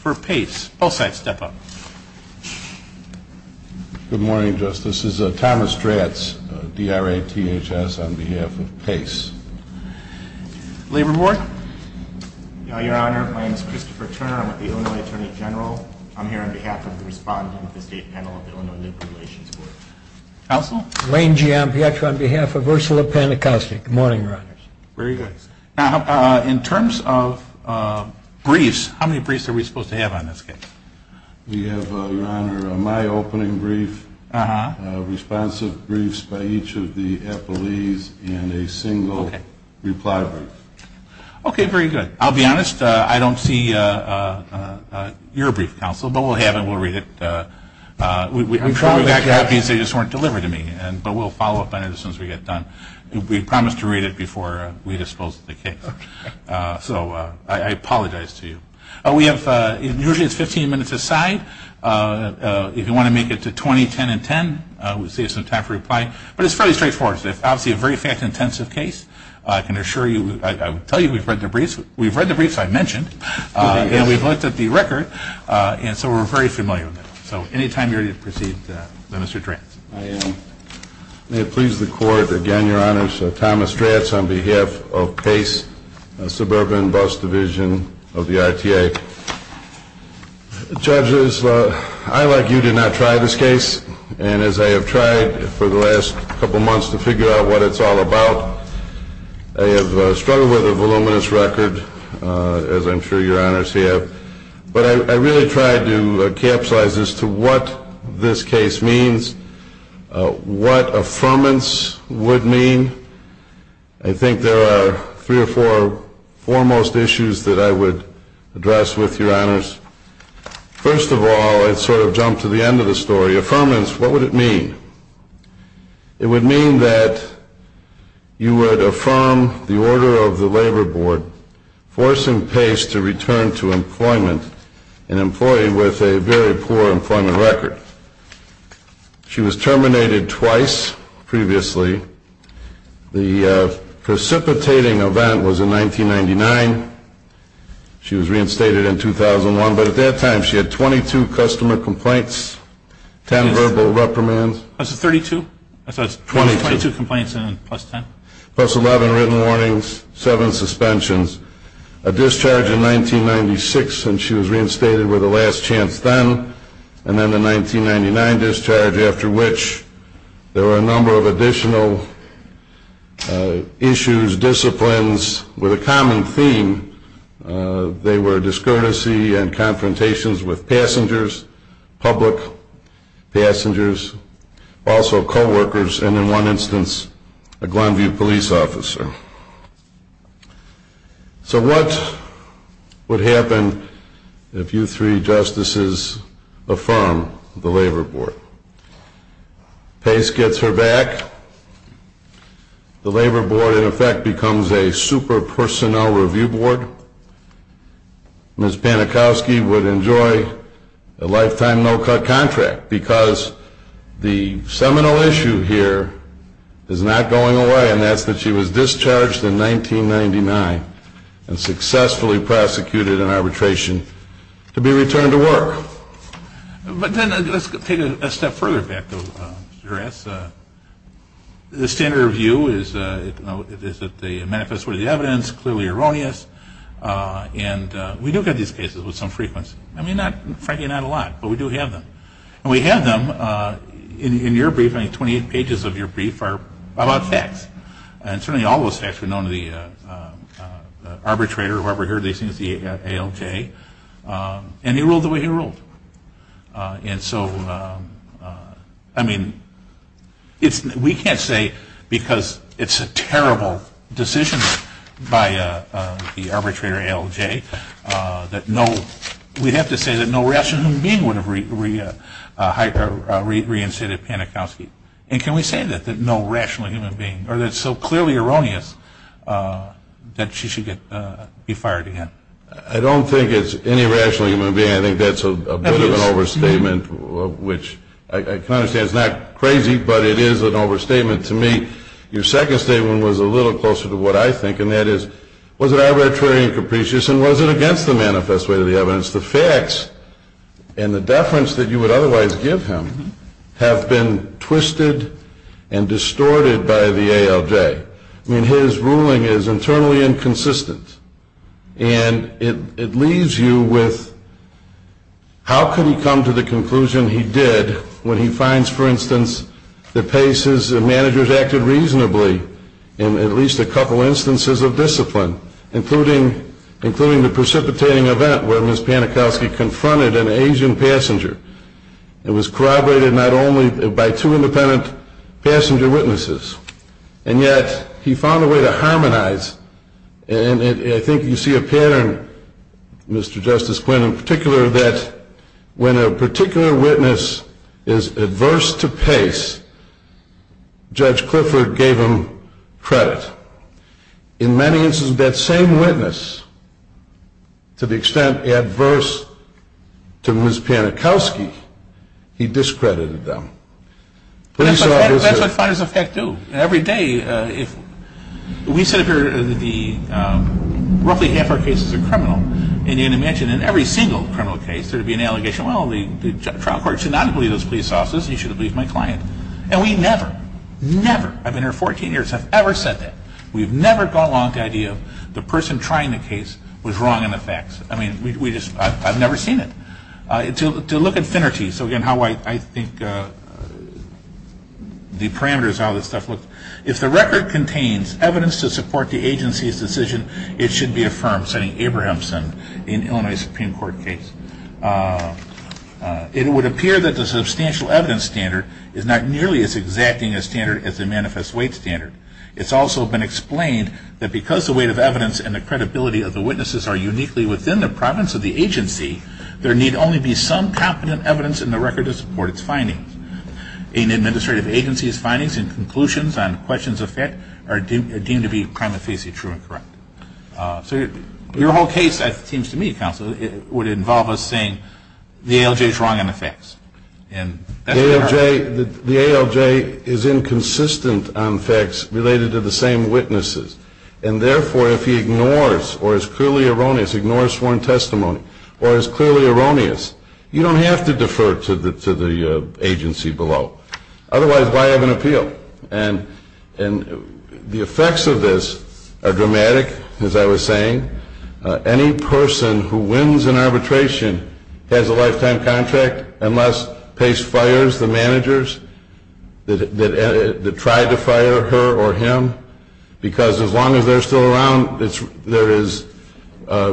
For Pace, both sides step up. Good morning, Justice. This is Thomas Stratz, D.R.A.T.H.S. on behalf of Pace. Labor Board? Your Honor, my name is Christopher Turner. I'm with the Illinois Attorney General. I'm here on behalf of the respondent of the state panel on behalf of the Illinois Attorney General. Counsel? Wayne G. Ampietra on behalf of Ursula Panacosti. Good morning, Your Honor. Very good. In terms of briefs, how many briefs are we supposed to have on this case? We have, Your Honor, my opening brief, responsive briefs by each of the appellees, and a single reply brief. Okay, very good. I'll be honest. I don't see your brief, Counsel, but we'll have it. We'll read it. I'm sure we got copies. They just weren't delivered to me, but we'll follow up on it as soon as we get done. We promise to read it before we dispose of the case. Okay. So I apologize to you. We have, usually it's 15 minutes a side. If you want to make it to 20, 10, and 10, we'll save some time for reply. But it's fairly straightforward. It's obviously a very fact-intensive case. I can assure you, I would tell you we've read the briefs. We've read the briefs I mentioned, and we've looked at the record, and so we're very familiar with them. So any time you're ready to proceed, Mr. Stratz. I am. May it please the Court, again, Your Honor, so Thomas Stratz on behalf of Pace Suburban Bus Division of the RTA. Judges, I, like you, did not try this case. And as I have tried for the last couple months to figure out what it's all about, I have struggled with a voluminous record, as I'm sure Your Honors have. But I really tried to capsulize as to what this case means, what affirmance would mean. I think there are three or four foremost issues that I would address with Your Honors. First of all, I'd sort of jump to the end of the story. Affirmance, what would it mean? It would mean that you would affirm the order of the Labor Board forcing Pace to return to employment, an employee with a very poor employment record. She was terminated twice previously. The precipitating event was in 1999. She was reinstated in 2001. But at that time she had 22 customer complaints, 10 verbal reprimands. Was it 32? I thought it was 22 complaints and then plus 10. Plus 11 written warnings, seven suspensions. A discharge in 1996, and she was reinstated with a last chance then. And then the 1999 discharge, after which there were a number of additional issues, disciplines with a common theme. They were discourtesy and confrontations with passengers, public passengers, also coworkers, and in one instance, a Glenview police officer. So what would happen if you three justices affirm the Labor Board? Pace gets her back. The Labor Board, in effect, becomes a super personnel review board. Ms. Panikowski would enjoy a lifetime no-cut contract because the seminal issue here is not going away, and that's that she was discharged in 1999 and successfully prosecuted in arbitration to be returned to work. But then let's take a step further back, though, Mr. Grass. The standard review is that they manifest worthy evidence, clearly erroneous, and we do get these cases with some frequency. I mean, frankly, not a lot, but we do have them. And we have them. In your brief, I think 28 pages of your brief are about facts, and certainly all those facts were known to the arbitrator, whoever heard these things, the ALJ, and he ruled the way he ruled. And so, I mean, we can't say because it's a terrible decision by the arbitrator, ALJ, that no rational human being would have reinstated Panikowski. And can we say that, that no rational human being, or that it's so clearly erroneous that she should be fired again? I don't think it's any rational human being. I think that's a bit of an overstatement, which I can understand is not crazy, but it is an overstatement to me. Your second statement was a little closer to what I think, and that is, was it arbitrary and capricious, and was it against the manifest way of the evidence? The facts and the deference that you would otherwise give him have been twisted and distorted by the ALJ. I mean, his ruling is internally inconsistent. And it leaves you with how could he come to the conclusion he did when he finds, for instance, that Pace's managers acted reasonably in at least a couple instances of discipline, including the precipitating event where Ms. Panikowski confronted an Asian passenger and was corroborated not only by two independent passenger witnesses, and yet he found a way to harmonize. And I think you see a pattern, Mr. Justice Quinn, in particular that when a particular witness is adverse to Pace, Judge Clifford gave him credit. In many instances of that same witness, to the extent adverse to Ms. Panikowski, he discredited them. That's what finders of fact do. Every day, we sit up here, roughly half our cases are criminal, and you can imagine in every single criminal case there would be an allegation, well, the trial court should not have believed those police officers, you should have believed my client. And we never, never, I've been here 14 years, have ever said that. We've never gone along with the idea of the person trying the case was wrong in the facts. I mean, I've never seen it. To look at finity, so again, how I think the parameters, how this stuff looks, if the record contains evidence to support the agency's decision, it should be affirmed, citing Abrahamson in Illinois Supreme Court case. It would appear that the substantial evidence standard is not nearly as exacting a standard as the manifest weight standard. It's also been explained that because the weight of evidence and the credibility of the witnesses are uniquely within the province of the agency, there need only be some competent evidence in the record to support its findings. An administrative agency's findings and conclusions on questions of fact are deemed to be prima facie true and correct. So your whole case, it seems to me, Counsel, would involve us saying the ALJ is wrong in the facts. The ALJ is inconsistent on facts related to the same witnesses, and therefore if he ignores or is clearly erroneous, ignores sworn testimony, or is clearly erroneous, you don't have to defer to the agency below. Otherwise, why have an appeal? And the effects of this are dramatic, as I was saying. Any person who wins an arbitration has a lifetime contract unless Pace fires the managers that tried to fire her or him because as long as they're still around, there is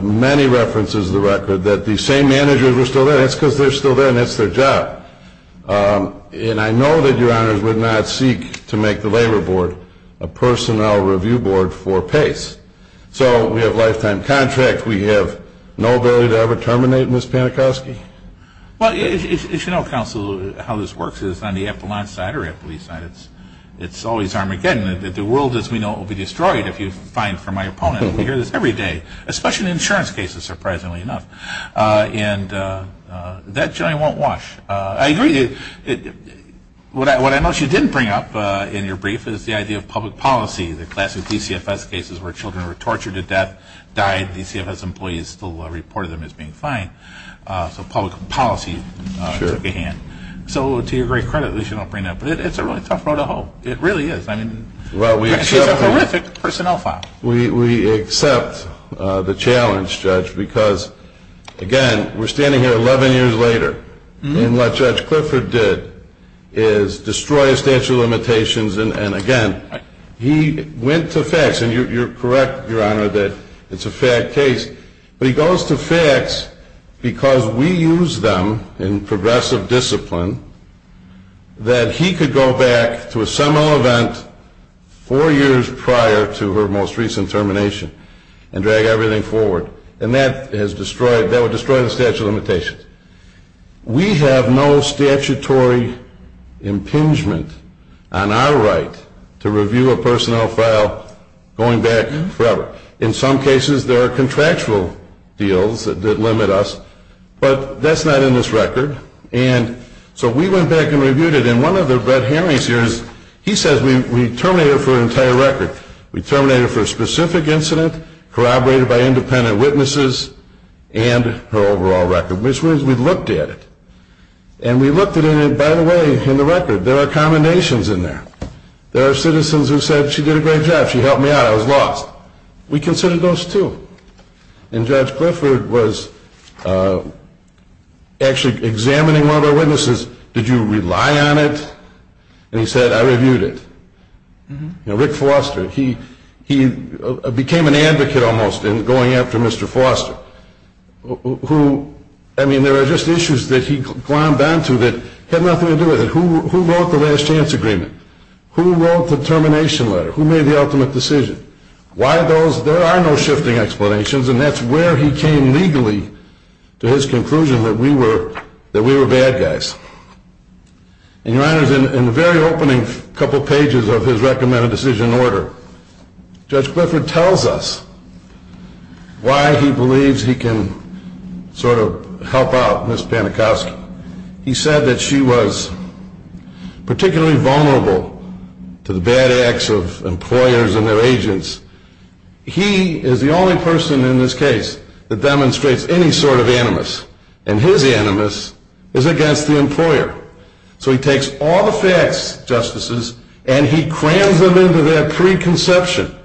many references in the record that the same managers are still there. That's because they're still there, and that's their job. And I know that Your Honors would not seek to make the Labor Board a personnel review board for Pace. So we have a lifetime contract. We have no ability to ever terminate Ms. Panikoski. Well, you should know, Counsel, how this works is on the Epelon side or Eppley side, it's always Armageddon. The world, as we know, will be destroyed if you find for my opponent. We hear this every day, especially in insurance cases, surprisingly enough. And that generally won't wash. I agree. What I noticed you didn't bring up in your brief is the idea of public policy, the classic DCFS cases where children were tortured to death, died, DCFS employees still reported them as being fine. So public policy took a hand. So to your great credit that you don't bring that up. But it's a really tough road to hoe. It really is. It's a horrific personnel file. We accept the challenge, Judge, because, again, we're standing here 11 years later, and what Judge Clifford did is destroy a statute of limitations. And, again, he went to facts. And you're correct, Your Honor, that it's a fact case. But he goes to facts because we use them in progressive discipline that he could go back to a seminal event four years prior to her most recent termination and drag everything forward. And that would destroy the statute of limitations. We have no statutory impingement on our right to review a personnel file going back forever. In some cases, there are contractual deals that limit us. But that's not in this record. And so we went back and reviewed it. And one of the Brett Henry's here, he says we terminated it for an entire record. We terminated it for a specific incident corroborated by independent witnesses and her overall record, which means we looked at it. And we looked at it, and, by the way, in the record, there are commendations in there. There are citizens who said she did a great job. She helped me out. I was lost. We considered those, too. And Judge Clifford was actually examining one of our witnesses. Did you rely on it? And he said, I reviewed it. Rick Foster, he became an advocate almost in going after Mr. Foster, who, I mean, there are just issues that he glommed onto that had nothing to do with it. Who wrote the last chance agreement? Who wrote the termination letter? Who made the ultimate decision? Why those? There are no shifting explanations, and that's where he came legally to his conclusion that we were bad guys. And, Your Honors, in the very opening couple pages of his recommended decision order, Judge Clifford tells us why he believes he can sort of help out Ms. Panikowski. He said that she was particularly vulnerable to the bad acts of employers and their agents. He is the only person in this case that demonstrates any sort of animus, and his animus is against the employer. So he takes all the facts, Justices, and he crams them into that preconception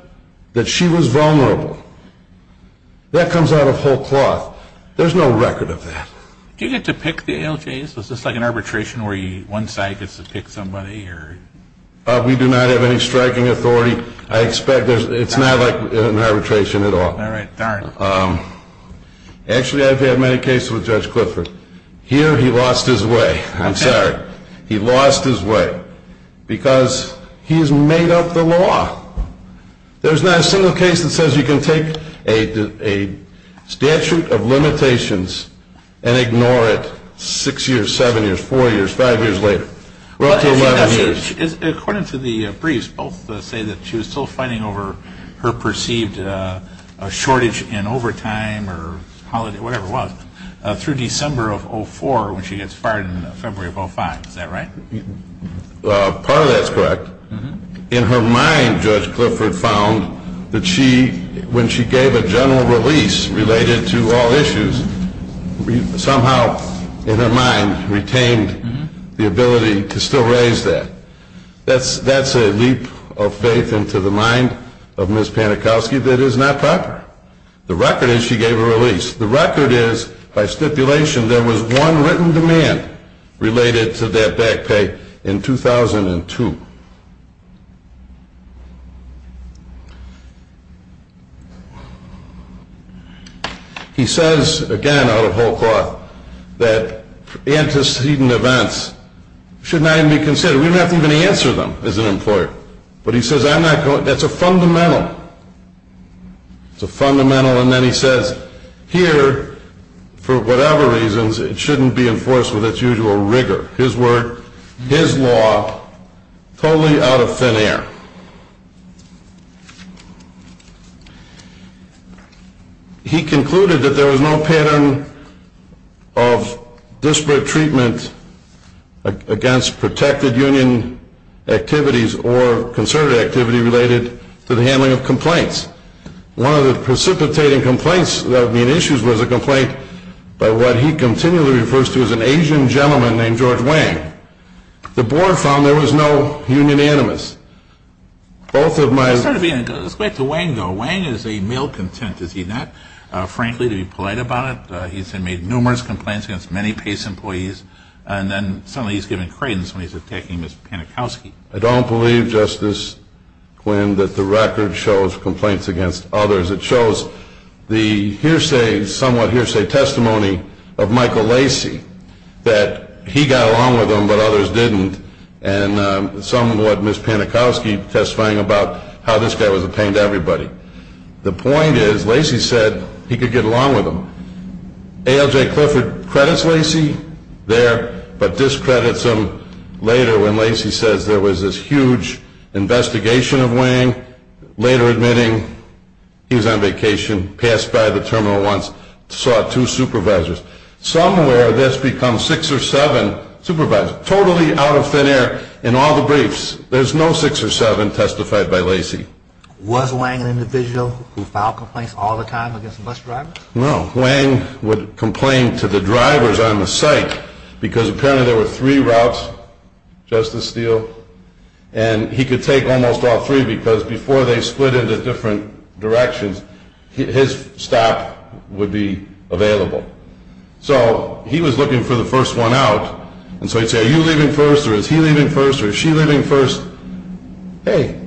that she was vulnerable. That comes out of whole cloth. There's no record of that. Do you get to pick the ALJs? Is this like an arbitration where one side gets to pick somebody? We do not have any striking authority. I expect it's not like an arbitration at all. All right. Darn. Actually, I've had many cases with Judge Clifford. Here he lost his way. I'm sorry. He lost his way because he has made up the law. There's not a single case that says you can take a statute of limitations and ignore it six years, seven years, four years, five years later, relative to 11 years. According to the briefs, both say that she was still fighting over her perceived shortage in overtime or whatever it was through December of 2004 when she gets fired in February of 2005. Is that right? Part of that is correct. In her mind, Judge Clifford found that when she gave a general release related to all issues, somehow in her mind retained the ability to still raise that. That's a leap of faith into the mind of Ms. Panikowski that is not proper. The record is she gave a release. The record is, by stipulation, there was one written demand related to that back pay in 2002. He says again out of whole cloth that antecedent events should not even be considered. We don't have to even answer them as an employer. It's a fundamental. And then he says here, for whatever reasons, it shouldn't be enforced with its usual rigor. His word, his law, totally out of thin air. He concluded that there was no pattern of disparate treatment against protected union activities or concerted activity related to the handling of complaints. One of the precipitating complaints that would be in issues was a complaint by what he continually refers to as an Asian gentleman named George Wang. The board found there was no union animus. Let's go back to Wang, though. Wang is a male content, is he not? Frankly, to be polite about it, he's made numerous complaints against many PACE employees, and then suddenly he's given credence when he's attacking Ms. Panikowski. I don't believe, Justice Quinn, that the record shows complaints against others. It shows the hearsay, somewhat hearsay testimony of Michael Lacey, that he got along with him but others didn't, and somewhat Ms. Panikowski testifying about how this guy was a pain to everybody. The point is Lacey said he could get along with him. ALJ Clifford credits Lacey there but discredits him later when Lacey says there was this huge investigation of Wang, later admitting he was on vacation, passed by the terminal once, saw two supervisors. Somewhere this becomes six or seven supervisors, totally out of thin air in all the briefs. There's no six or seven testified by Lacey. Was Wang an individual who filed complaints all the time against bus drivers? No. Wang would complain to the drivers on the site because apparently there were three routes, Justice Steele, and he could take almost all three because before they split into different directions, his stop would be available. So he was looking for the first one out, and so he'd say, are you leaving first or is he leaving first or is she leaving first? Hey,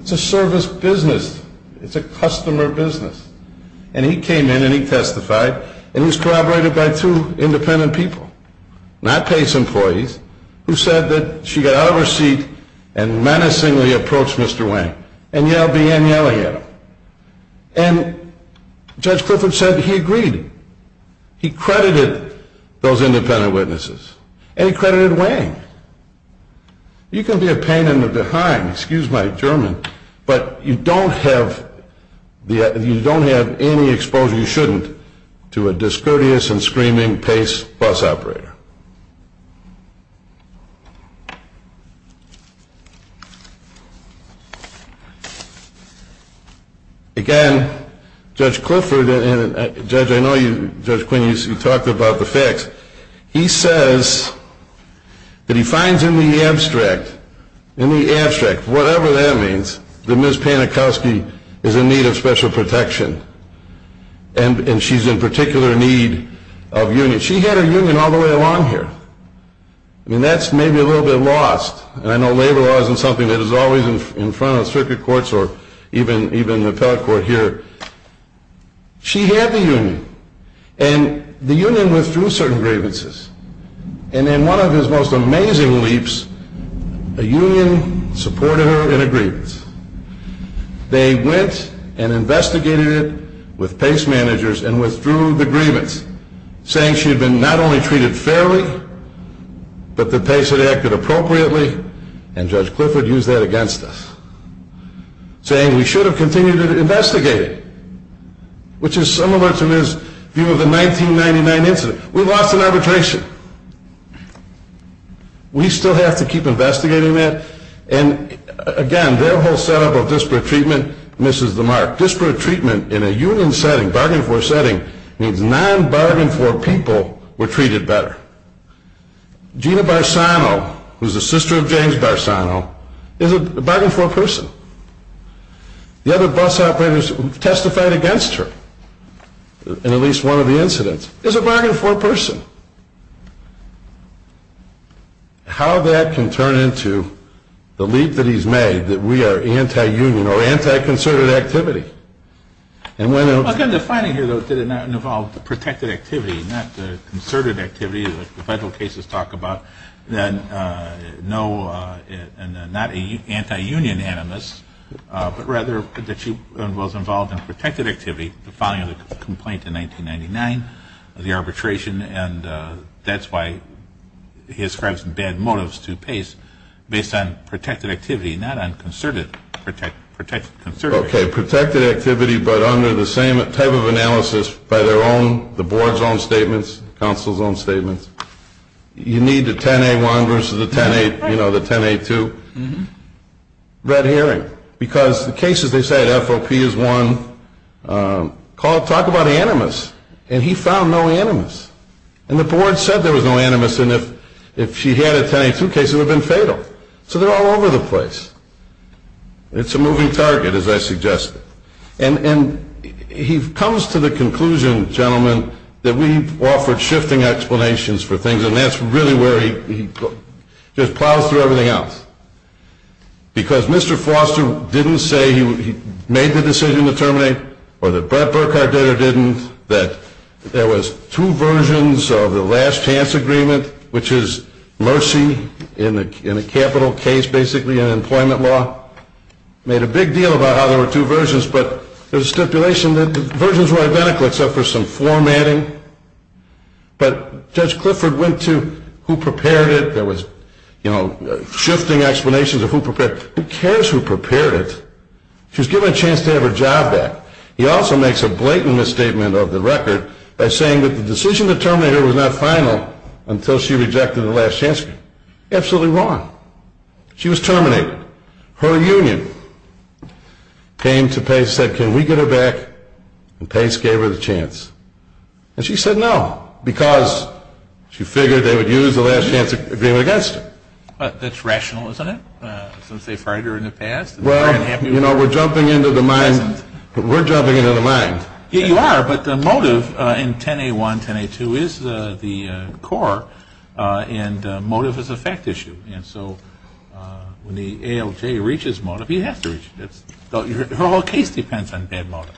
it's a service business. It's a customer business. And he came in and he testified, and he was corroborated by two independent people, not PACE employees, who said that she got out of her seat and menacingly approached Mr. Wang and began yelling at him. And Judge Clifford said he agreed. He credited those independent witnesses, and he credited Wang. You can be a pain in the behind, excuse my German, but you don't have any exposure you shouldn't to a discourteous and screaming PACE bus operator. Again, Judge Clifford and Judge Quinn, you talked about the facts. He says that he finds in the abstract, in the abstract, whatever that means, that Ms. Panikowsky is in need of special protection, and she's in particular need of union. She had her union all the way along here. I mean, that's maybe a little bit lost, and I know labor law isn't something that is always in front of circuit courts or even the appellate court here. She had the union, and the union withdrew certain grievances, and in one of his most amazing leaps, a union supported her in a grievance. They went and investigated it with PACE managers and withdrew the grievance, saying she had been not only treated fairly, but that PACE had acted appropriately, and Judge Clifford used that against us, saying we should have continued to investigate it, which is similar to his view of the 1999 incident. We lost in arbitration. We still have to keep investigating that, and again, their whole setup of disparate treatment misses the mark. Disparate treatment in a union setting, bargain floor setting, means non-bargain floor people were treated better. Gina Barsano, who is the sister of James Barsano, is a bargain floor person. The other bus operators who testified against her in at least one of the incidents is a bargain floor person. How that can turn into the leap that he's made, that we are anti-union or anti-conservative activity. Again, the finding here, though, is that it did not involve protected activity, not the conservative activity that the federal cases talk about, not anti-union animus, but rather that she was involved in protected activity, the filing of the complaint in 1999, the arbitration, and that's why he ascribes bad motives to PACE based on protected activity, not on conservative activity. Okay, protected activity, but under the same type of analysis by their own, the board's own statements, counsel's own statements. You need the 10A1 versus the 10A2. Red herring, because the cases they said, FOP is one, talk about animus, and he found no animus. And the board said there was no animus, and if she had a 10A2 case, it would have been fatal. So they're all over the place. It's a moving target, as I suggested. And he comes to the conclusion, gentlemen, that we've offered shifting explanations for things, and that's really where he just plows through everything else, because Mr. Foster didn't say he made the decision to terminate, or that Brett Burkhardt did or didn't, that there was two versions of the last chance agreement, which is mercy in a capital case, basically, in employment law. Made a big deal about how there were two versions, but there's a stipulation that the versions were identical except for some formatting. But Judge Clifford went to who prepared it. There was shifting explanations of who prepared it. Who cares who prepared it? She was given a chance to have her job back. He also makes a blatant misstatement of the record by saying that the decision to terminate her was not final until she rejected the last chance agreement. Absolutely wrong. She was terminated. Her union came to Pace and said, can we get her back? And Pace gave her the chance. And she said no, because she figured they would use the last chance agreement against her. That's rational, isn't it, since they fired her in the past? Well, you know, we're jumping into the mind. We're jumping into the mind. You are, but the motive in 10A1, 10A2 is the core, and motive is a fact issue. And so when the ALJ reaches motive, he has to reach it. Her whole case depends on bad motive.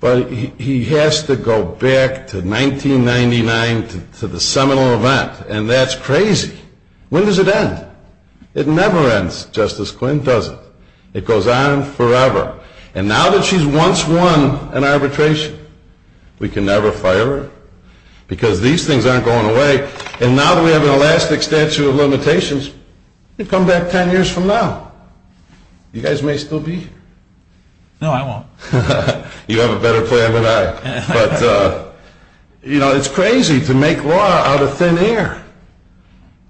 But he has to go back to 1999 to the seminal event, and that's crazy. When does it end? It never ends, Justice Quinn, does it? It goes on forever. And now that she's once won an arbitration, we can never fire her, because these things aren't going away. And now that we have an elastic statute of limitations, we come back 10 years from now. You guys may still be here. No, I won't. You have a better plan than I. But, you know, it's crazy to make law out of thin air.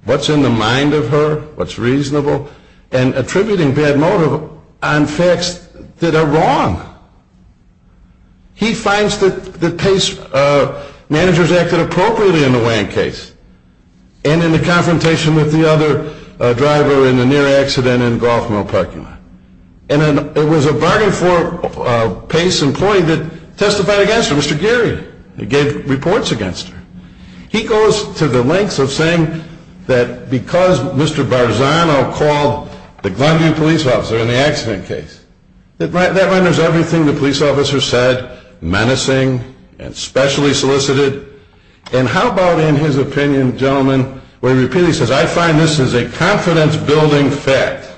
What's in the mind of her, what's reasonable, and attributing bad motive on facts that are wrong? He finds that Pace managers acted appropriately in the Wank case and in the confrontation with the other driver in the near accident in Golf Mill Parking Lot. And it was a bargain for a Pace employee that testified against her, Mr. Geary, who gave reports against her. He goes to the lengths of saying that because Mr. Barzano called the Glendale police officer in the accident case, that renders everything the police officer said menacing and specially solicited. And how about in his opinion, gentlemen, where he repeatedly says, I find this is a confidence-building fact.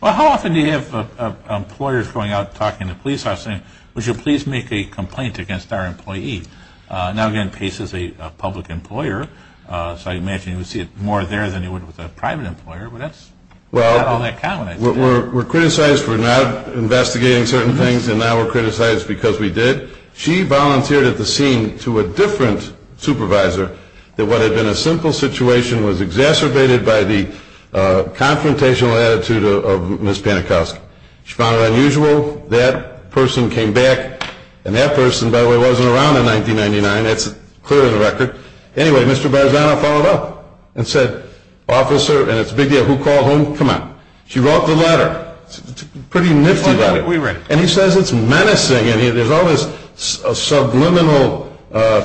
Well, how often do you have employers going out and talking to police officers and saying, would you please make a complaint against our employee? Now, again, Pace is a public employer, so I imagine you would see it more there than you would with a private employer, but that's not all that common. We're criticized for not investigating certain things, and now we're criticized because we did. She volunteered at the scene to a different supervisor that what had been a simple situation was exacerbated by the confrontational attitude of Ms. Panikowska. She found it unusual. That person came back, and that person, by the way, wasn't around in 1999. That's clear in the record. Anyway, Mr. Barzano followed up and said, officer, and it's a big deal, who called whom? Come on. She wrote the letter. Pretty nifty letter. And he says it's menacing, and there's all this subliminal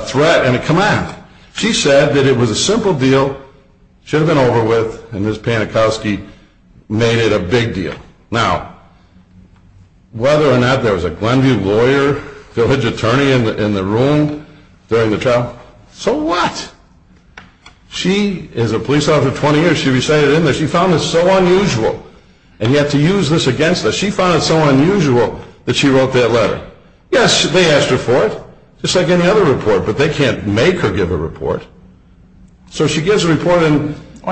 threat, and come on. She said that it was a simple deal, should have been over with, and Ms. Panikowska made it a big deal. Now, whether or not there was a Glenview lawyer, village attorney in the room during the trial, so what? She is a police officer for 20 years. She resided in there. She found this so unusual, and yet to use this against us. She found it so unusual that she wrote that letter. Yes, they asked her for it, just like any other report, but they can't make her give a report. So she gives a report. Why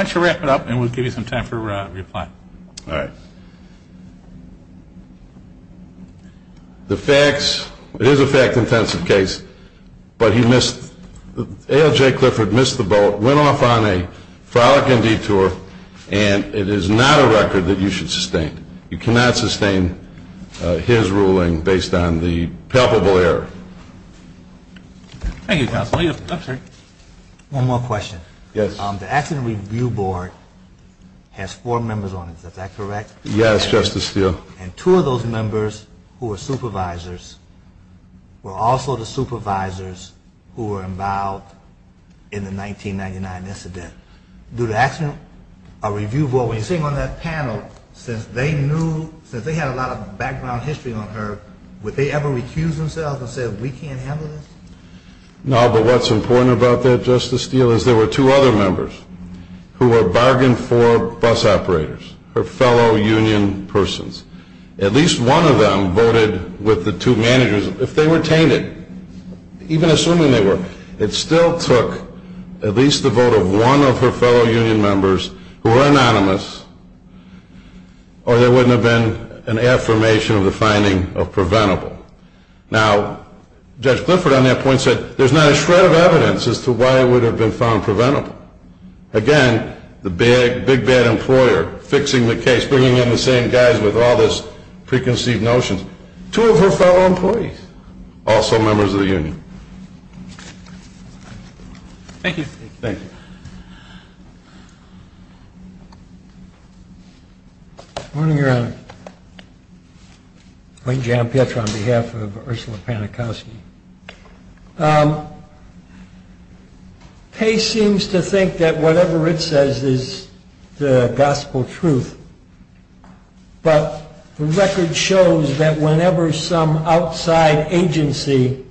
don't you wrap it up, and we'll give you some time for reply. All right. The facts, it is a fact-intensive case, but he missed, ALJ Clifford missed the boat, went off on a frolicking detour, and it is not a record that you should sustain. You cannot sustain his ruling based on the palpable error. Thank you, counsel. One more question. Yes. The accident review board has four members on it. Is that correct? Yes, Justice Steele. And two of those members who are supervisors were also the supervisors who were involved in the 1999 incident. Do the accident review board, when you're sitting on that panel, since they knew, since they had a lot of background history on her, would they ever recuse themselves and say, we can't handle this? No, but what's important about that, Justice Steele, is there were two other members who were bargain for bus operators, her fellow union persons. At least one of them voted with the two managers. If they retained it, even assuming they were, it still took at least the vote of one of her fellow union members who were anonymous, or there wouldn't have been an affirmation of the finding of preventable. Now, Judge Clifford on that point said there's not a shred of evidence as to why it would have been found preventable. Again, the big, bad employer fixing the case, bringing in the same guys with all this preconceived notions. Two of her fellow employees, also members of the union. Thank you. Thank you. Good morning, Your Honor. Wayne J. Ampietra on behalf of Ursula Panikowsky. Pace seems to think that whatever it says is the gospel truth, but the record shows that whenever some outside agency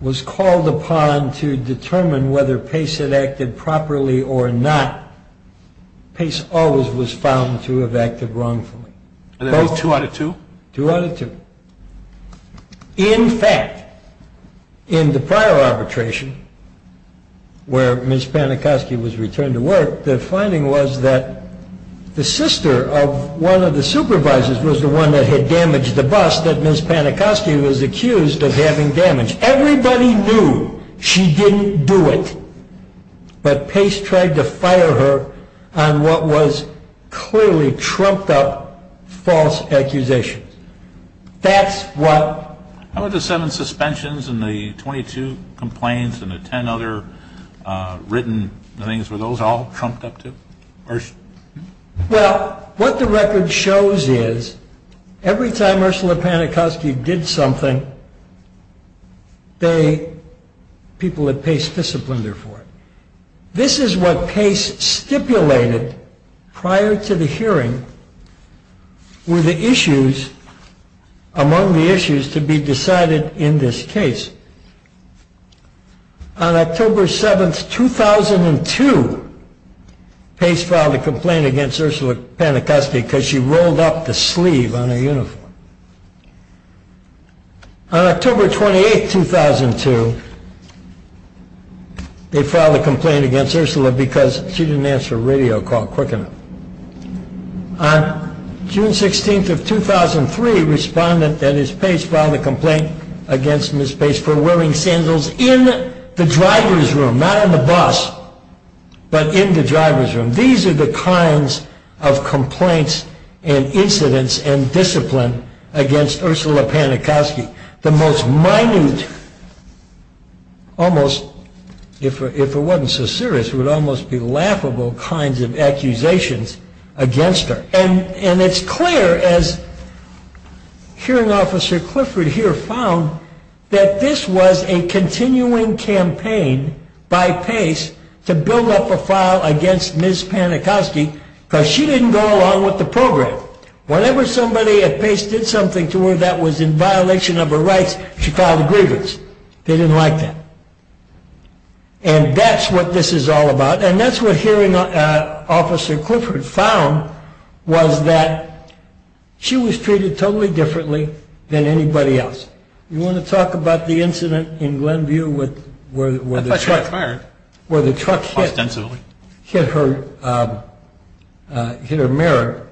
was called upon to determine whether Pace had acted properly or not, Pace always was found to have acted wrongfully. And that was two out of two? Two out of two. In fact, in the prior arbitration, where Ms. Panikowsky was returned to work, the finding was that the sister of one of the supervisors was the one that had damaged the bus that Ms. Panikowsky was accused of having damaged. Everybody knew she didn't do it, but Pace tried to fire her on what was clearly trumped up false accusations. That's what... How about the seven suspensions and the 22 complaints and the ten other written things, were those all trumped up too? Well, what the record shows is every time Ursula Panikowsky did something, people at Pace disciplined her for it. This is what Pace stipulated prior to the hearing were the issues, among the issues to be decided in this case. On October 7, 2002, Pace filed a complaint against Ursula Panikowsky because she rolled up the sleeve on her uniform. On October 28, 2002, they filed a complaint against Ursula because she didn't answer a radio call quick enough. On June 16, 2003, Respondent, that is Pace, filed a complaint against Ms. Pace for wearing sandals in the driver's room, not in the bus, but in the driver's room. These are the kinds of complaints and incidents and discipline against Ursula Panikowsky. The most minute, almost, if it wasn't so serious, would almost be laughable kinds of accusations against her. And it's clear, as Hearing Officer Clifford here found, that this was a continuing campaign by Pace to build up a file against Ms. Panikowsky because she didn't go along with the program. Whenever somebody at Pace did something to her that was in violation of her rights, she filed a grievance. They didn't like that. And that's what this is all about. And that's what Hearing Officer Clifford found, was that she was treated totally differently than anybody else. You want to talk about the incident in Glenview where the truck hit her mirror?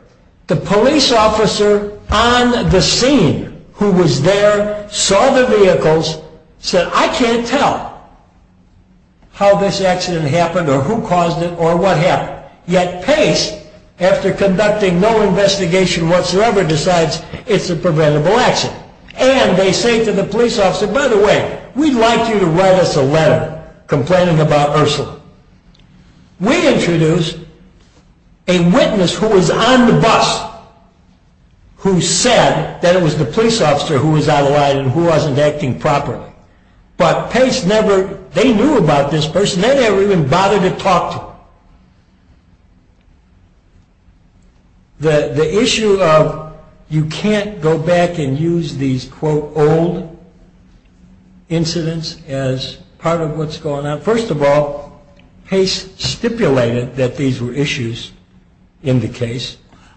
The police officer on the scene who was there saw the vehicles, said, I can't tell how this accident happened or who caused it or what happened. Yet Pace, after conducting no investigation whatsoever, decides it's a preventable accident. And they say to the police officer, by the way, we'd like you to write us a letter complaining about Ursula. We introduced a witness who was on the bus who said that it was the police officer who was out of line and who wasn't acting properly. But Pace never, they knew about this person. They never even bothered to talk to her. The issue of you can't go back and use these, quote, old incidents as part of what's going on. First of all, Pace stipulated that these were issues in the case.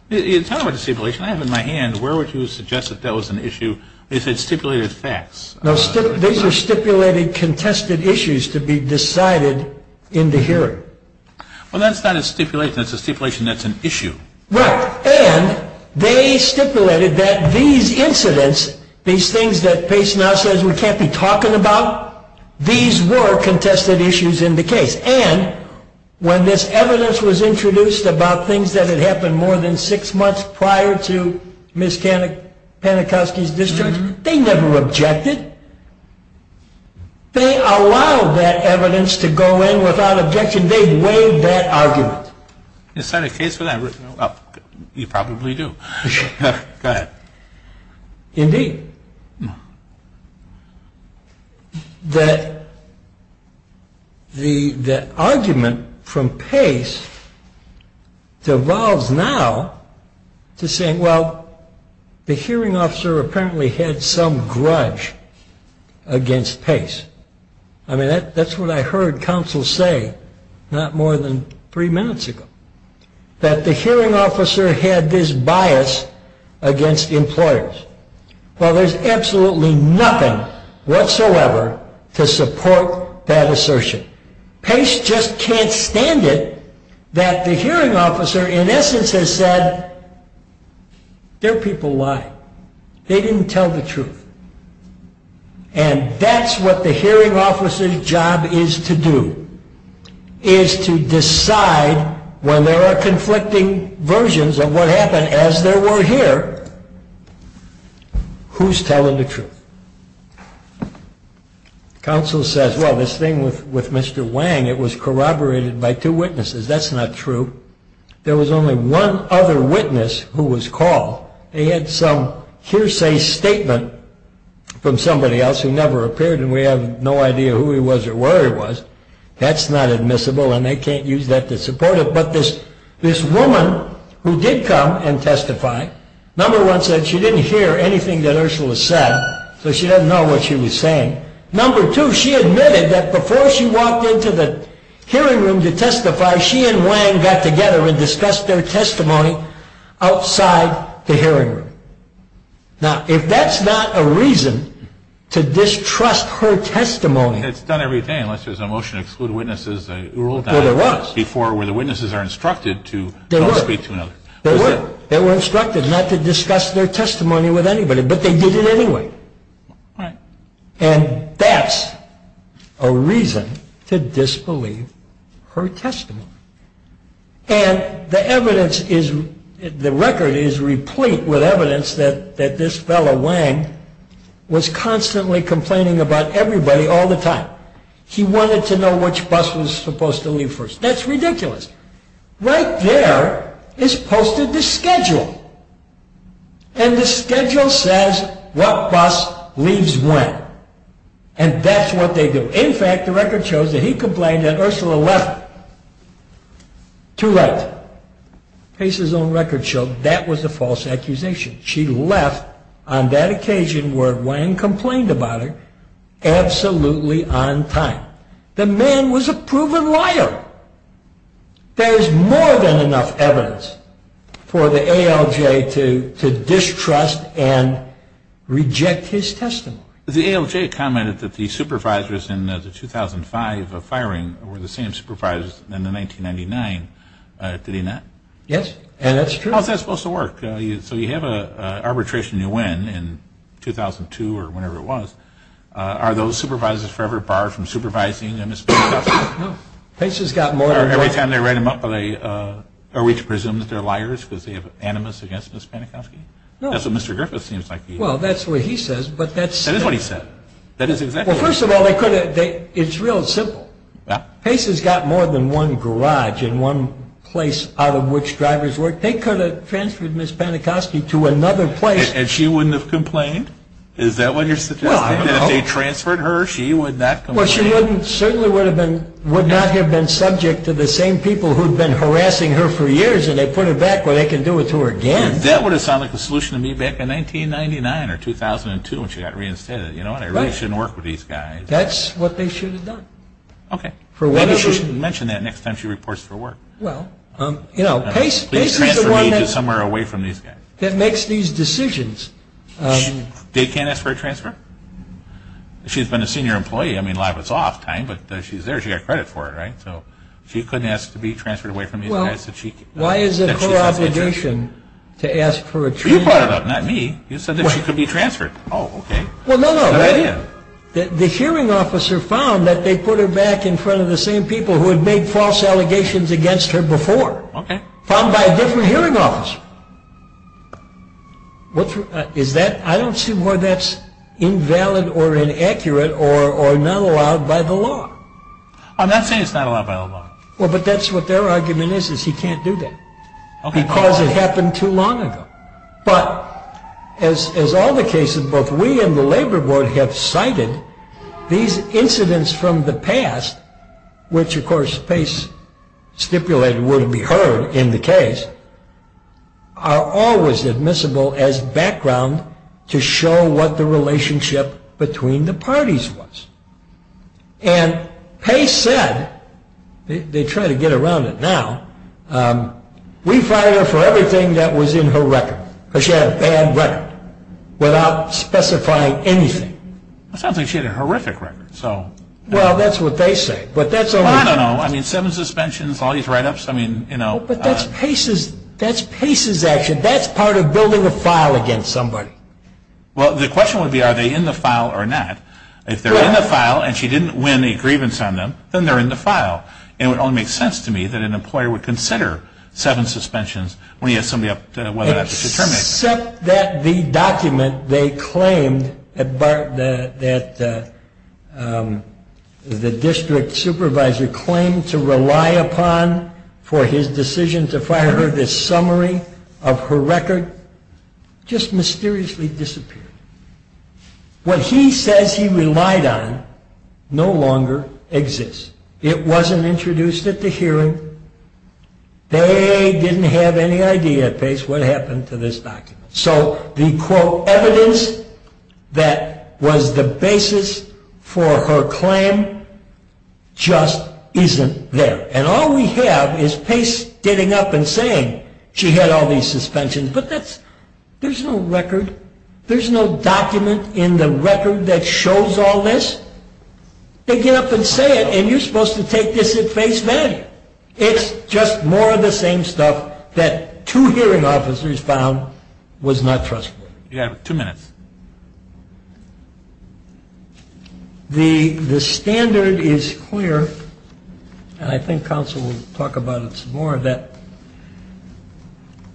Tell me about the stipulation. I have it in my hand. Where would you suggest that that was an issue if it stipulated facts? No, these are stipulated contested issues to be decided in the hearing. Well, that's not a stipulation. That's a stipulation that's an issue. Right. And they stipulated that these incidents, these things that Pace now says we can't be talking about, these were contested issues in the case. And when this evidence was introduced about things that had happened more than six months prior to Ms. Panikowski's discharge, they never objected. They allowed that evidence to go in without objection. They waived that argument. Is that a case for that? You probably do. Go ahead. Indeed. The argument from Pace devolves now to saying, well, the hearing officer apparently had some grudge against Pace. I mean, that's what I heard counsel say not more than three minutes ago, that the hearing officer had this bias against employers. Well, there's absolutely nothing whatsoever to support that assertion. Pace just can't stand it that the hearing officer, in essence, has said, there are people lying. They didn't tell the truth. And that's what the hearing officer's job is to do, is to decide when there are conflicting versions of what happened, as there were here, who's telling the truth. Counsel says, well, this thing with Mr. Wang, it was corroborated by two witnesses. That's not true. There was only one other witness who was called. They had some hearsay statement from somebody else who never appeared, and we have no idea who he was or where he was. That's not admissible, and they can't use that to support it. But this woman who did come and testify, number one said she didn't hear anything that Ursula said, so she doesn't know what she was saying. Number two, she admitted that before she walked into the hearing room to testify, she and Wang got together and discussed their testimony outside the hearing room. Now, if that's not a reason to distrust her testimony. It's done every day, unless there's a motion to exclude witnesses. There was. Before, where the witnesses are instructed to don't speak to another. There were. They were instructed not to discuss their testimony with anybody, but they did it anyway. Right. And that's a reason to disbelieve her testimony. And the evidence is, the record is replete with evidence that this fellow, Wang, was constantly complaining about everybody all the time. He wanted to know which bus was supposed to leave first. That's ridiculous. Right there is posted the schedule, and the schedule says what bus leaves when, and that's what they do. In fact, the record shows that he complained that Ursula left too late. Pace's own record showed that was a false accusation. She left on that occasion where Wang complained about her absolutely on time. The man was a proven liar. There is more than enough evidence for the ALJ to distrust and reject his testimony. The ALJ commented that the supervisors in the 2005 firing were the same supervisors in the 1999. Did he not? Yes. And that's true. How is that supposed to work? So you have an arbitration you win in 2002 or whenever it was. Are those supervisors forever barred from supervising Ms. Panikowski? No. Pace has gotten more and more. Every time they write him up, are we to presume that they're liars because they have animus against Ms. Panikowski? No. That's what Mr. Griffith seems like. Well, that's what he says. That is what he said. That is exactly what he said. Well, first of all, it's real simple. Pace has got more than one garage and one place out of which drivers work. They could have transferred Ms. Panikowski to another place. And she wouldn't have complained? Is that what you're suggesting? Well, I don't know. That if they transferred her, she would not complain? Well, she certainly would not have been subject to the same people who have been harassing her for years and they put her back where they can do it to her again. That would have sounded like a solution to me back in 1999 or 2002 when she got reinstated. You know what? I really shouldn't work with these guys. That's what they should have done. Okay. Maybe she should mention that next time she reports for work. Well, you know, Pace is the one that makes these decisions. They can't ask for a transfer? She's been a senior employee. I mean, a lot of it's off time, but she's there. She got credit for it, right? So she couldn't ask to be transferred away from these guys. Why is it her obligation to ask for a transfer? You brought it up, not me. You said that she could be transferred. Oh, okay. Well, no, no. Good idea. The hearing officer found that they put her back in front of the same people who had made false allegations against her before. Okay. Found by a different hearing officer. I don't see why that's invalid or inaccurate or not allowed by the law. I'm not saying it's not allowed by the law. Well, but that's what their argument is, is he can't do that because it happened too long ago. But as all the cases, both we and the Labor Board have cited, these incidents from the past, which, of course, Pace stipulated would be heard in the case, are always admissible as background to show what the relationship between the parties was. And Pace said, they try to get around it now, we fired her for everything that was in her record, because she had a bad record, without specifying anything. It sounds like she had a horrific record. Well, that's what they say. I don't know. I mean, seven suspensions, all these write-ups. But that's Pace's action. That's part of building a file against somebody. Well, the question would be are they in the file or not. If they're in the file and she didn't win a grievance on them, then they're in the file. It would only make sense to me that an employer would consider seven suspensions when he has somebody up to determine it. Except that the document they claimed that the district supervisor claimed to rely upon for his decision to fire her, this summary of her record, just mysteriously disappeared. What he says he relied on no longer exists. It wasn't introduced at the hearing. They didn't have any idea, Pace, what happened to this document. So the, quote, evidence that was the basis for her claim just isn't there. And all we have is Pace getting up and saying she had all these suspensions. But that's, there's no record, there's no document in the record that shows all this. They get up and say it, and you're supposed to take this at face value. It's just more of the same stuff that two hearing officers found was not trustworthy. You have two minutes. The standard is clear, and I think counsel will talk about it some more, that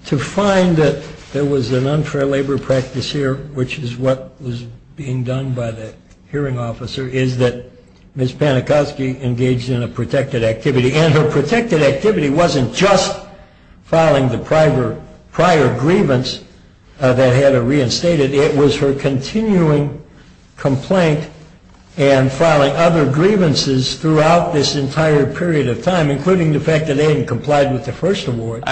to find that there was an unfair labor practice here, which is what was being done by the hearing officer, is that Ms. Panakoski engaged in a protected activity. And her protected activity wasn't just filing the prior grievance that had her reinstated. It was her continuing complaint and filing other grievances throughout this entire period of time, including the fact that they hadn't complied with the first award.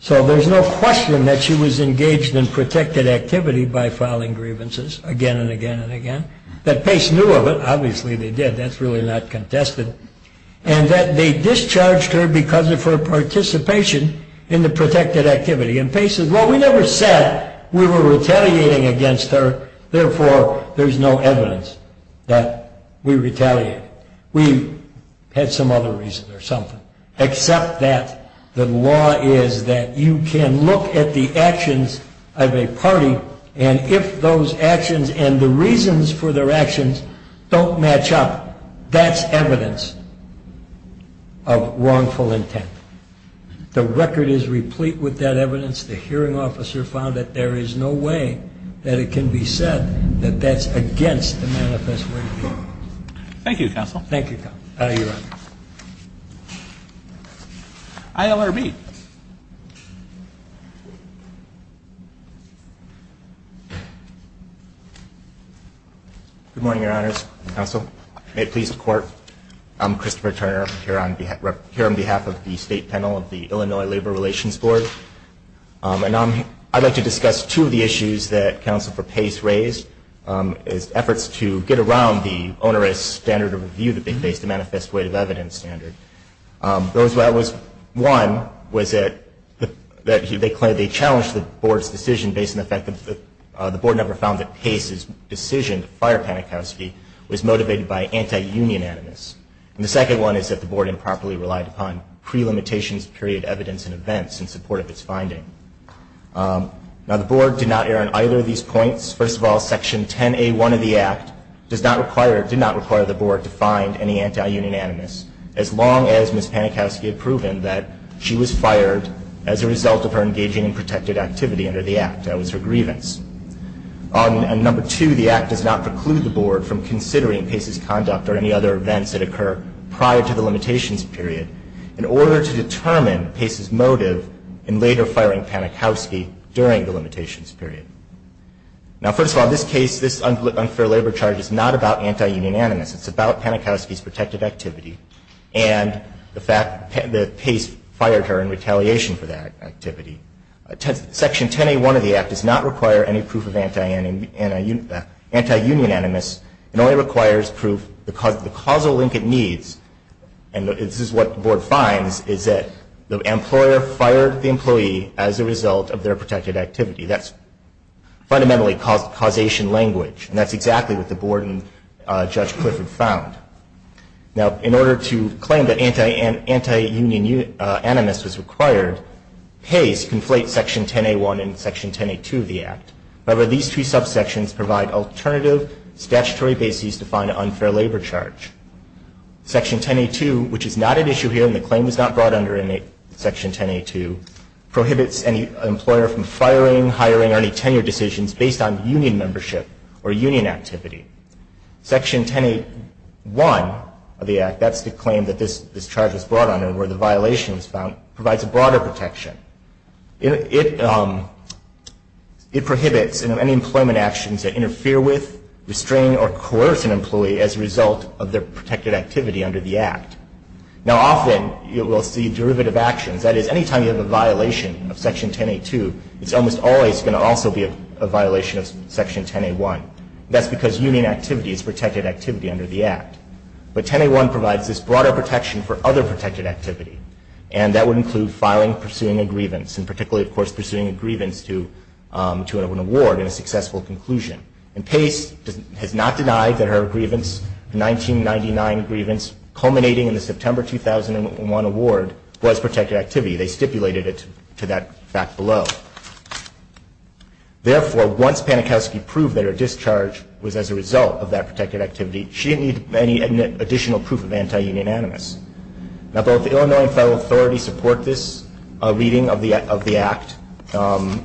So there's no question that she was engaged in protected activity by filing grievances again and again and again. That Pace knew of it. Obviously, they did. That's really not contested. And that they discharged her because of her participation in the protected activity. And Pace said, well, we never said we were retaliating against her, therefore there's no evidence that we retaliated. We had some other reason or something, except that the law is that you can look at the actions of a party, and if those actions and the reasons for their actions don't match up, that's evidence of wrongful intent. The record is replete with that evidence. The hearing officer found that there is no way that it can be said that that's against the manifest way of the law. Thank you, Counsel. Thank you, Counsel. You're welcome. ILRB. May it please the Court. I'm Christopher Turner. I'm here on behalf of the State Panel of the Illinois Labor Relations Board. I'd like to discuss two of the issues that Counsel for Pace raised, his efforts to get around the onerous standard of review that they faced, the manifest way of evidence standard. One was that they challenged the Board's decision based on the fact that the Board never found that Pace's decision to fire Panikowsky was motivated by anti-union animus. And the second one is that the Board improperly relied upon pre-limitations period evidence and events in support of its finding. Now, the Board did not err on either of these points. First of all, Section 10A1 of the Act did not require the Board to find any anti-union animus, as long as Ms. Panikowsky had proven that she was fired as a result of her engaging in protected activity under the Act. That was her grievance. And number two, the Act does not preclude the Board from considering Pace's conduct or any other events that occur prior to the limitations period in order to determine Pace's motive in later firing Panikowsky during the limitations period. Now, first of all, this case, this unfair labor charge is not about anti-union animus. It's about Panikowsky's protected activity and the fact that Pace fired her in retaliation for that activity. Section 10A1 of the Act does not require any proof of anti-union animus. It only requires proof of the causal link it needs. And this is what the Board finds, is that the employer fired the employee as a result of their protected activity. That's fundamentally causation language. And that's exactly what the Board and Judge Clifford found. Now, in order to claim that anti-union animus was required, Pace conflates Section 10A1 and Section 10A2 of the Act. However, these two subsections provide alternative statutory bases to find an unfair labor charge. Section 10A2, which is not at issue here, and the claim was not brought under Section 10A2, prohibits any employer from firing, hiring, or any tenure decisions based on union membership or union activity. Section 10A1 of the Act, that's the claim that this charge was brought under where the violation was found, provides a broader protection. It prohibits any employment actions that interfere with, restrain, or coerce an employee as a result of their protected activity under the Act. Now, often you will see derivative actions. That is, any time you have a violation of Section 10A2, it's almost always going to also be a violation of Section 10A1. That's because union activity is protected activity under the Act. But 10A1 provides this broader protection for other protected activity, and that would include filing, pursuing a grievance, and particularly, of course, pursuing a grievance to an award in a successful conclusion. And Pace has not denied that her grievance, the 1999 grievance, culminating in the September 2001 award, was protected activity. They stipulated it to that fact below. Therefore, once Panikowsky proved that her discharge was as a result of that protected activity, she didn't need any additional proof of anti-union animus. Now, both the Illinois and federal authorities support this reading of the Act.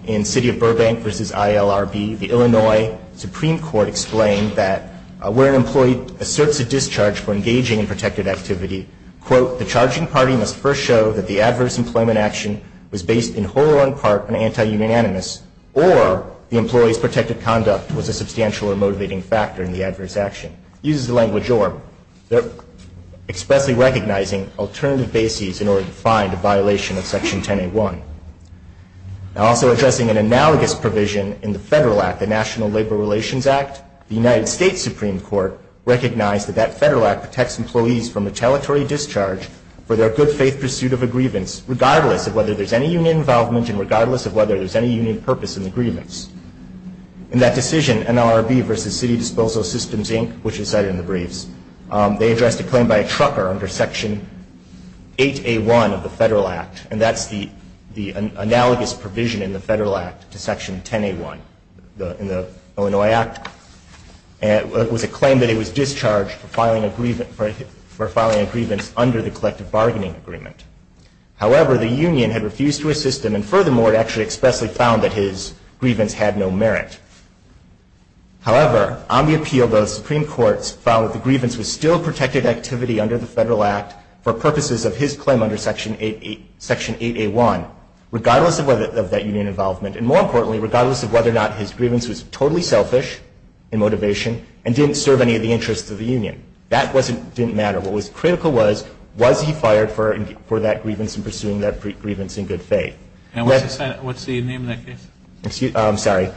In City of Burbank v. ILRB, the Illinois Supreme Court explained that where an employee asserts a discharge for engaging in protected activity, quote, the charging party must first show that the adverse employment action was based in whole or in part on anti-union animus, or the employee's protected conduct was a substantial or motivating factor in the adverse action. It uses the language or. They're expressly recognizing alternative bases in order to find a violation of Section 10A1. Now, also addressing an analogous provision in the federal Act, the National Labor Relations Act, the United States Supreme Court recognized that that federal act protects employees from retaliatory discharge for their good faith pursuit of a grievance, regardless of whether there's any union involvement and regardless of whether there's any union purpose in the grievance. In that decision, NLRB v. City Disposal Systems, Inc., which is cited in the briefs, they addressed a claim by a trucker under Section 8A1 of the federal act, and that's the analogous provision in the federal act to Section 10A1 in the Illinois Act. It was a claim that he was discharged for filing a grievance under the collective bargaining agreement. However, the union had refused to assist him, and furthermore, it actually expressly found that his grievance had no merit. However, on the appeal, both Supreme Courts found that the grievance was still protected activity under the federal act for purposes of his claim under Section 8A1, regardless of that union involvement, and more importantly, regardless of whether or not his grievance was totally selfish in motivation and didn't serve any of the interests of the union. That didn't matter. What was critical was, was he fired for that grievance and pursuing that grievance in good faith. And what's the name of that case? I'm sorry.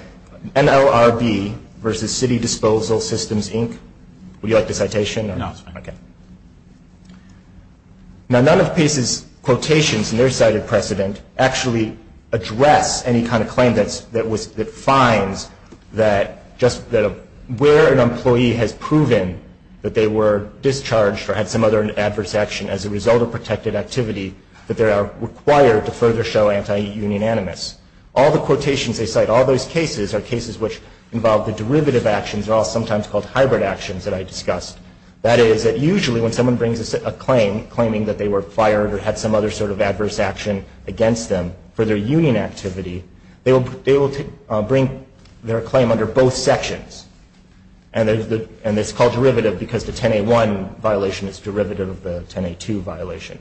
NLRB v. City Disposal Systems, Inc. Would you like the citation? No, it's fine. Okay. Now, none of PACE's quotations in their cited precedent actually address any kind of claim that finds that just where an employee has proven that they were discharged or had some other adverse action as a result of protected activity, that they are required to further show anti-union animus. All the quotations they cite, all those cases, are cases which involve the derivative actions are all sometimes called hybrid actions that I discussed. That is, that usually when someone brings a claim claiming that they were fired or had some other sort of adverse action against them for their union activity, they will bring their claim under both sections. And it's called derivative because the 10A1 violation is derivative of the 10A2 violation.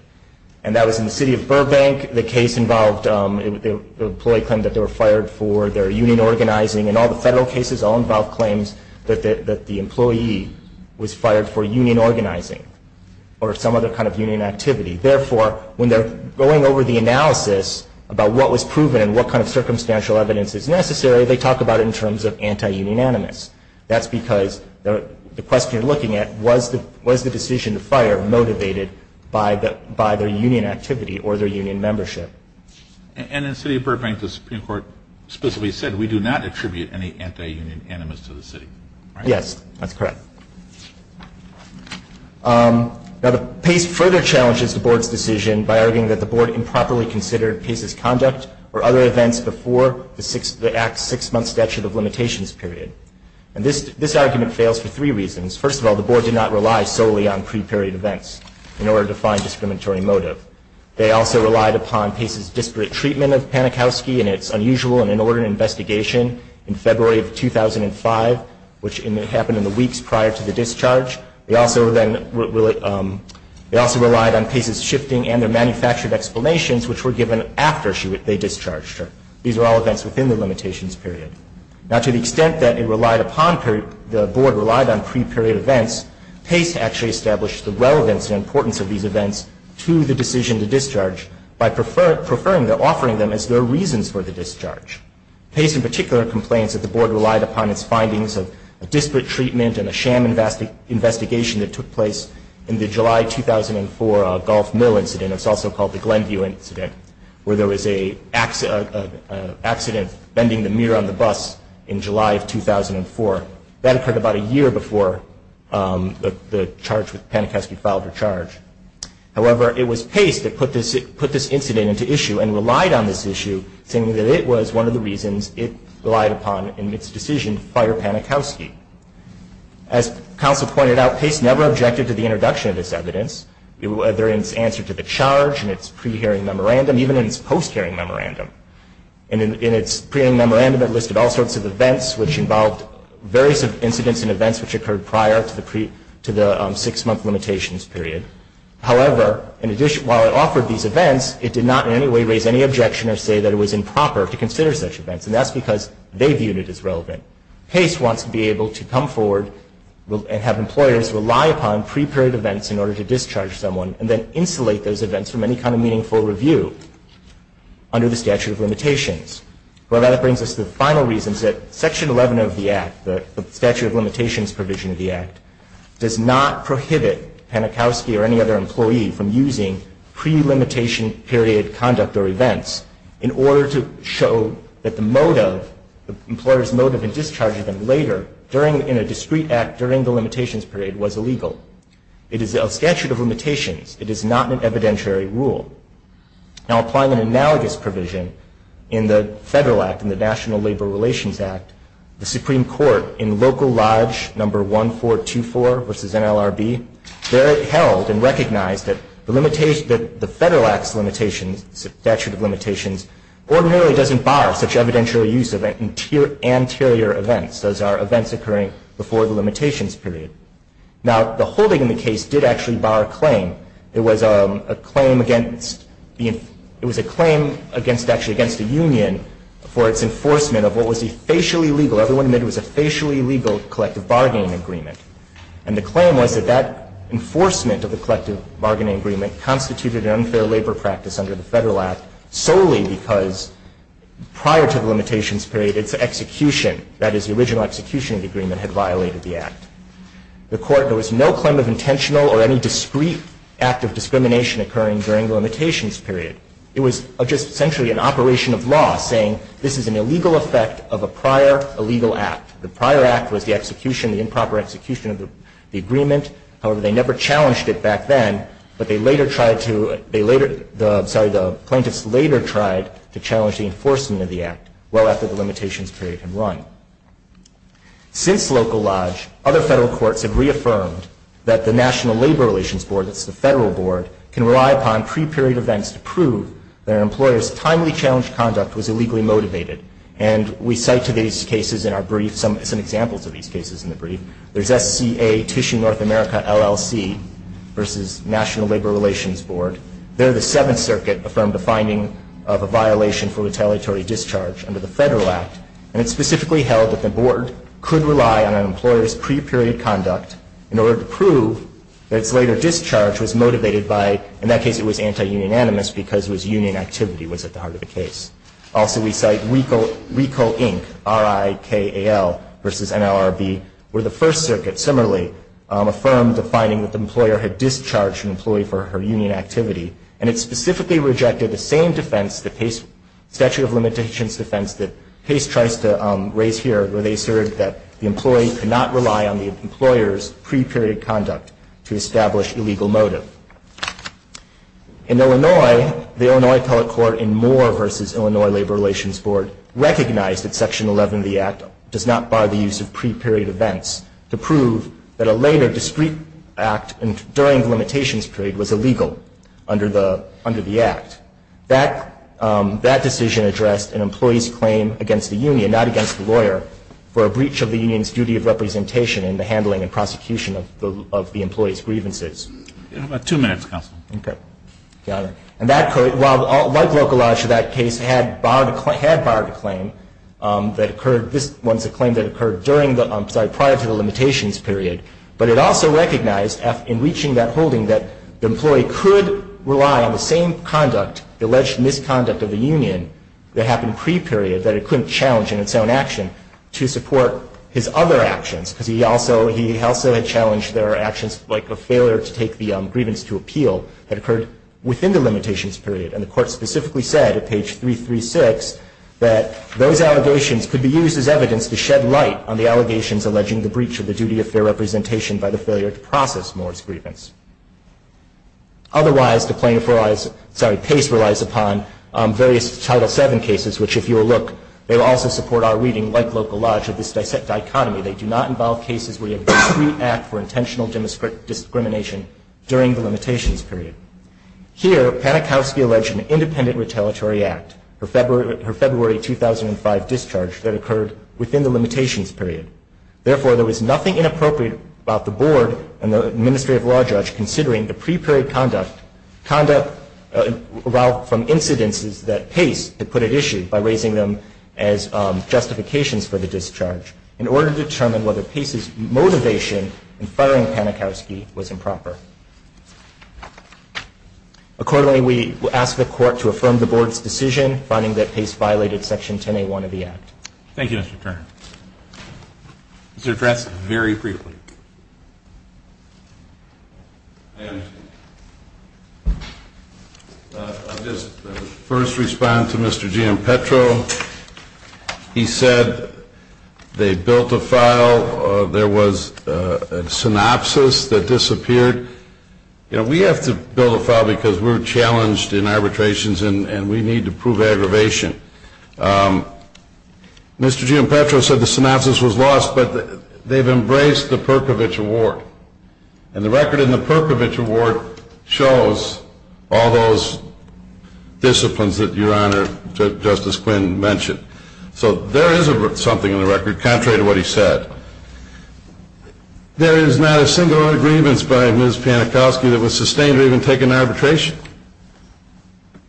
And that was in the city of Burbank. I think the case involved the employee claimed that they were fired for their union organizing. And all the federal cases all involve claims that the employee was fired for union organizing or some other kind of union activity. Therefore, when they're going over the analysis about what was proven and what kind of circumstantial evidence is necessary, they talk about it in terms of anti-union animus. That's because the question you're looking at, was the decision to fire motivated by their union activity or their union membership? And in the city of Burbank, the Supreme Court specifically said, we do not attribute any anti-union animus to the city, right? Yes, that's correct. Now, the PACE further challenges the Board's decision by arguing that the Board improperly considered PACE's conduct or other events before the Act's six-month statute of limitations period. And this argument fails for three reasons. First of all, the Board did not rely solely on pre-period events in order to find discriminatory motive. They also relied upon PACE's disparate treatment of Panikowski in its unusual and inordinate investigation in February of 2005, which happened in the weeks prior to the discharge. They also relied on PACE's shifting and their manufactured explanations, which were given after they discharged her. These were all events within the limitations period. Now, to the extent that the Board relied on pre-period events, PACE actually established the relevance and importance of these events to the decision to discharge by preferring or offering them as their reasons for the discharge. PACE in particular complains that the Board relied upon its findings of a disparate treatment and a sham investigation that took place in the July 2004 Gulf Mill incident. It's also called the Glenview incident, where there was an accident bending the mirror on the bus in July of 2004. That occurred about a year before the charge with Panikowski filed her charge. However, it was PACE that put this incident into issue and relied on this issue, saying that it was one of the reasons it relied upon in its decision to fire Panikowski. As counsel pointed out, PACE never objected to the introduction of this evidence, whether in its answer to the charge, in its pre-hearing memorandum, even in its post-hearing memorandum. In its pre-hearing memorandum, it listed all sorts of events which involved various incidents and events which occurred prior to the six-month limitations period. However, while it offered these events, it did not in any way raise any objection or say that it was improper to consider such events, and that's because they viewed it as relevant. PACE wants to be able to come forward and have employers rely upon pre-period events in order to discharge someone, and then insulate those events from any kind of meaningful review under the statute of limitations. Well, that brings us to the final reasons that Section 11 of the Act, the statute of limitations provision of the Act, does not prohibit Panikowski or any other employee from using pre-limitation period conduct or events in order to show that the motive, the employer's motive in discharging them later in a discrete act during the limitations period was illegal. It is a statute of limitations. It is not an evidentiary rule. Now, applying an analogous provision in the Federal Act and the National Labor Relations Act, the Supreme Court in Local Lodge No. 1424 v. NLRB, there it held and recognized that the Federal Act's limitations, statute of limitations, ordinarily doesn't bar such evidentiary use of anterior events. Those are events occurring before the limitations period. Now, the holding in the case did actually bar a claim. It was a claim against the union for its enforcement of what was a facially legal, everyone admitted it was a facially legal collective bargaining agreement. And the claim was that that enforcement of the collective bargaining agreement constituted an unfair labor practice under the Federal Act solely because prior to the limitations period, its execution, that is the original execution of the agreement, had violated the Act. The Court, there was no claim of intentional or any discrete act of discrimination occurring during the limitations period. It was just essentially an operation of law saying this is an illegal effect of a prior illegal act. The prior act was the execution, the improper execution of the agreement. However, they never challenged it back then, but they later tried to, sorry, the plaintiffs later tried to challenge the enforcement of the Act well after the limitations period had run. Since Local Lodge, other federal courts have reaffirmed that the National Labor Relations Board, that's the federal board, can rely upon pre-period events to prove that an employer's timely challenge conduct was illegally motivated. And we cite to these cases in our brief some examples of these cases in the brief. There's SCA, Tissue North America LLC versus National Labor Relations Board. They're the Seventh Circuit affirmed a finding of a violation for retaliatory discharge under the Federal Act. And it's specifically held that the board could rely on an employer's pre-period conduct in order to prove that its later discharge was motivated by, in that case, it was anti-union animus because union activity was at the heart of the case. Also, we cite RICO Inc., R-I-K-A-L, versus NLRB, were the First Circuit, similarly, affirmed a finding that the employer had discharged an employee for her union activity. And it specifically rejected the same defense, the statute of limitations defense, that Pace tries to raise here where they assert that the employee could not rely on the employer's pre-period conduct to establish illegal motive. In Illinois, the Illinois Appellate Court in Moore versus Illinois Labor Relations Board recognized that Section 11 of the Act does not bar the use of pre-period events to prove that a later discrete act during the limitations period was illegal under the Act. That decision addressed an employee's claim against the union, not against the lawyer, for a breach of the union's duty of representation in the handling and prosecution of the employee's grievances. How about two minutes, counsel? Okay. Got it. And that could, like Locolaj in that case, had barred a claim that occurred, this one's a claim that occurred during the, I'm sorry, prior to the limitations period. But it also recognized in reaching that holding that the employee could rely on the same conduct, alleged misconduct of the union that happened pre-period, that it couldn't challenge in its own action to support his other actions because he also had challenged their actions like a failure to take the grievance to appeal that occurred within the limitations period. And the Court specifically said at page 336 that those allegations could be used as evidence to shed light on the allegations alleging the breach of the duty of fair representation by the failure to process Moore's grievance. Otherwise, the plaintiff relies, sorry, Pace relies upon various Title VII cases, which if you will look, they will also support our reading, like Locolaj, of this dichotomy. They do not involve cases where you have a discreet act for intentional discrimination during the limitations period. Here, Panikowsky alleged an independent retaliatory act, her February 2005 discharge that occurred within the limitations period. Therefore, there was nothing inappropriate about the Board and the Administrative Law Judge considering the pre-period conduct, conduct from incidences that Pace had put at issue by raising them as justifications for the discharge. In order to determine whether Pace's motivation in firing Panikowsky was improper. Accordingly, we ask the Court to affirm the Board's decision finding that Pace violated Section 10A1 of the Act. Thank you, Mr. Turner. Mr. Dressen. Very briefly. I understand. I'll just first respond to Mr. Gianpetro. He said they built a file. There was a synopsis that disappeared. You know, we have to build a file because we're challenged in arbitrations and we need to prove aggravation. Mr. Gianpetro said the synopsis was lost, but they've embraced the Perkovich Award. And the record in the Perkovich Award shows all those disciplines that Your Honor, Justice Quinn mentioned. So there is something in the record contrary to what he said. There is not a single grievance by Ms. Panikowsky that was sustained or even taken into arbitration.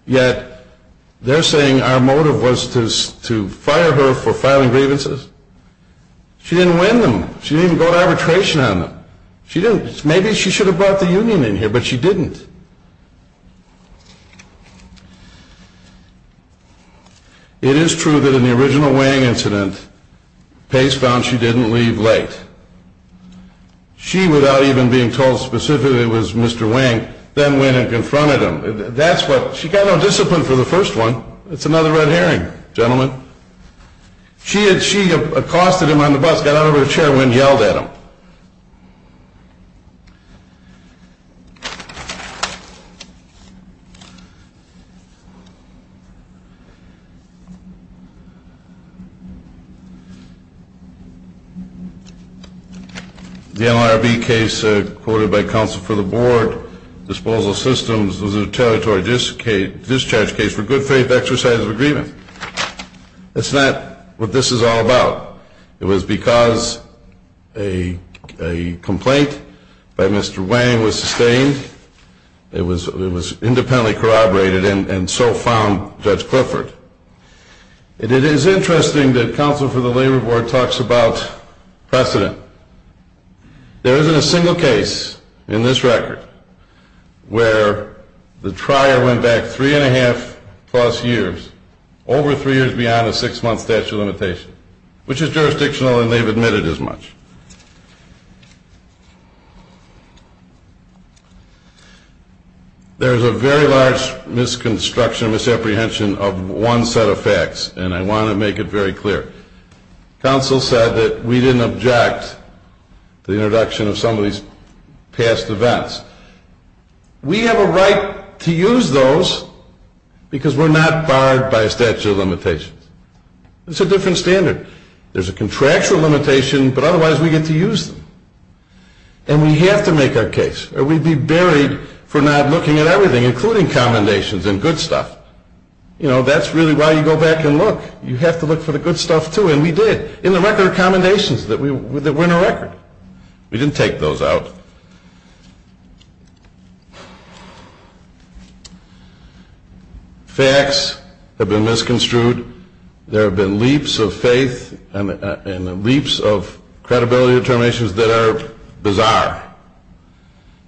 Yet they're saying our motive was to fire her for filing grievances. She didn't win them. She didn't even go to arbitration on them. Maybe she should have brought the union in here, but she didn't. It is true that in the original Wang incident, Pace found she didn't leave late. She, without even being told specifically it was Mr. Wang, then went and confronted him. She got no discipline for the first one. It's another red herring, gentlemen. She accosted him on the bus, got out of her chair, went and yelled at him. The NLRB case quoted by counsel for the board, disposal systems, was a territory discharge case for good faith exercise of agreement. That's not what this is all about. It was because a complaint by Mr. Wang was sustained. It was independently corroborated, and so found Judge Clifford. It is interesting that counsel for the labor board talks about precedent. There isn't a single case in this record where the trier went back three and a half plus years, over three years beyond a six-month statute of limitations, which is jurisdictional and they've admitted as much. There's a very large misconstruction, misapprehension of one set of facts, and I want to make it very clear. Counsel said that we didn't object to the introduction of some of these past events. We have a right to use those because we're not barred by a statute of limitations. It's a different standard. There's a contractual limitation, but otherwise we get to use them. And we have to make our case, or we'd be buried for not looking at everything, including commendations and good stuff. You know, that's really why you go back and look. You have to look for the good stuff, too, and we did, in the record of commendations that were in our record. We didn't take those out. Facts have been misconstrued. There have been leaps of faith and leaps of credibility determinations that are bizarre.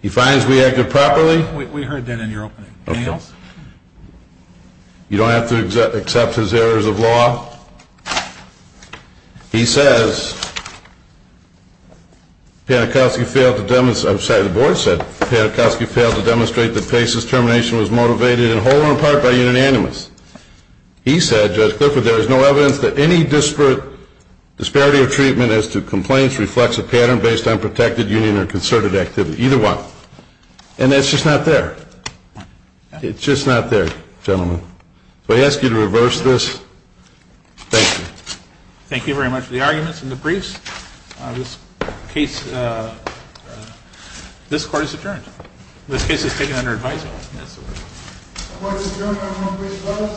He finds we acted properly. Okay. Anything else? You don't have to accept his errors of law. He says Panakowski failed to demonstrate that Pace's termination was motivated in whole or in part by unanimous. He said, Judge Clifford, there is no evidence that any disparity of treatment as to complaints reflects a pattern based on protected, union, or concerted activity. Either one. And that's just not there. One. It's just not there, gentlemen. So I ask you to reverse this. Thank you. Thank you very much for the arguments and the briefs. This case, this court is adjourned. This case is taken under advisory. Court is adjourned.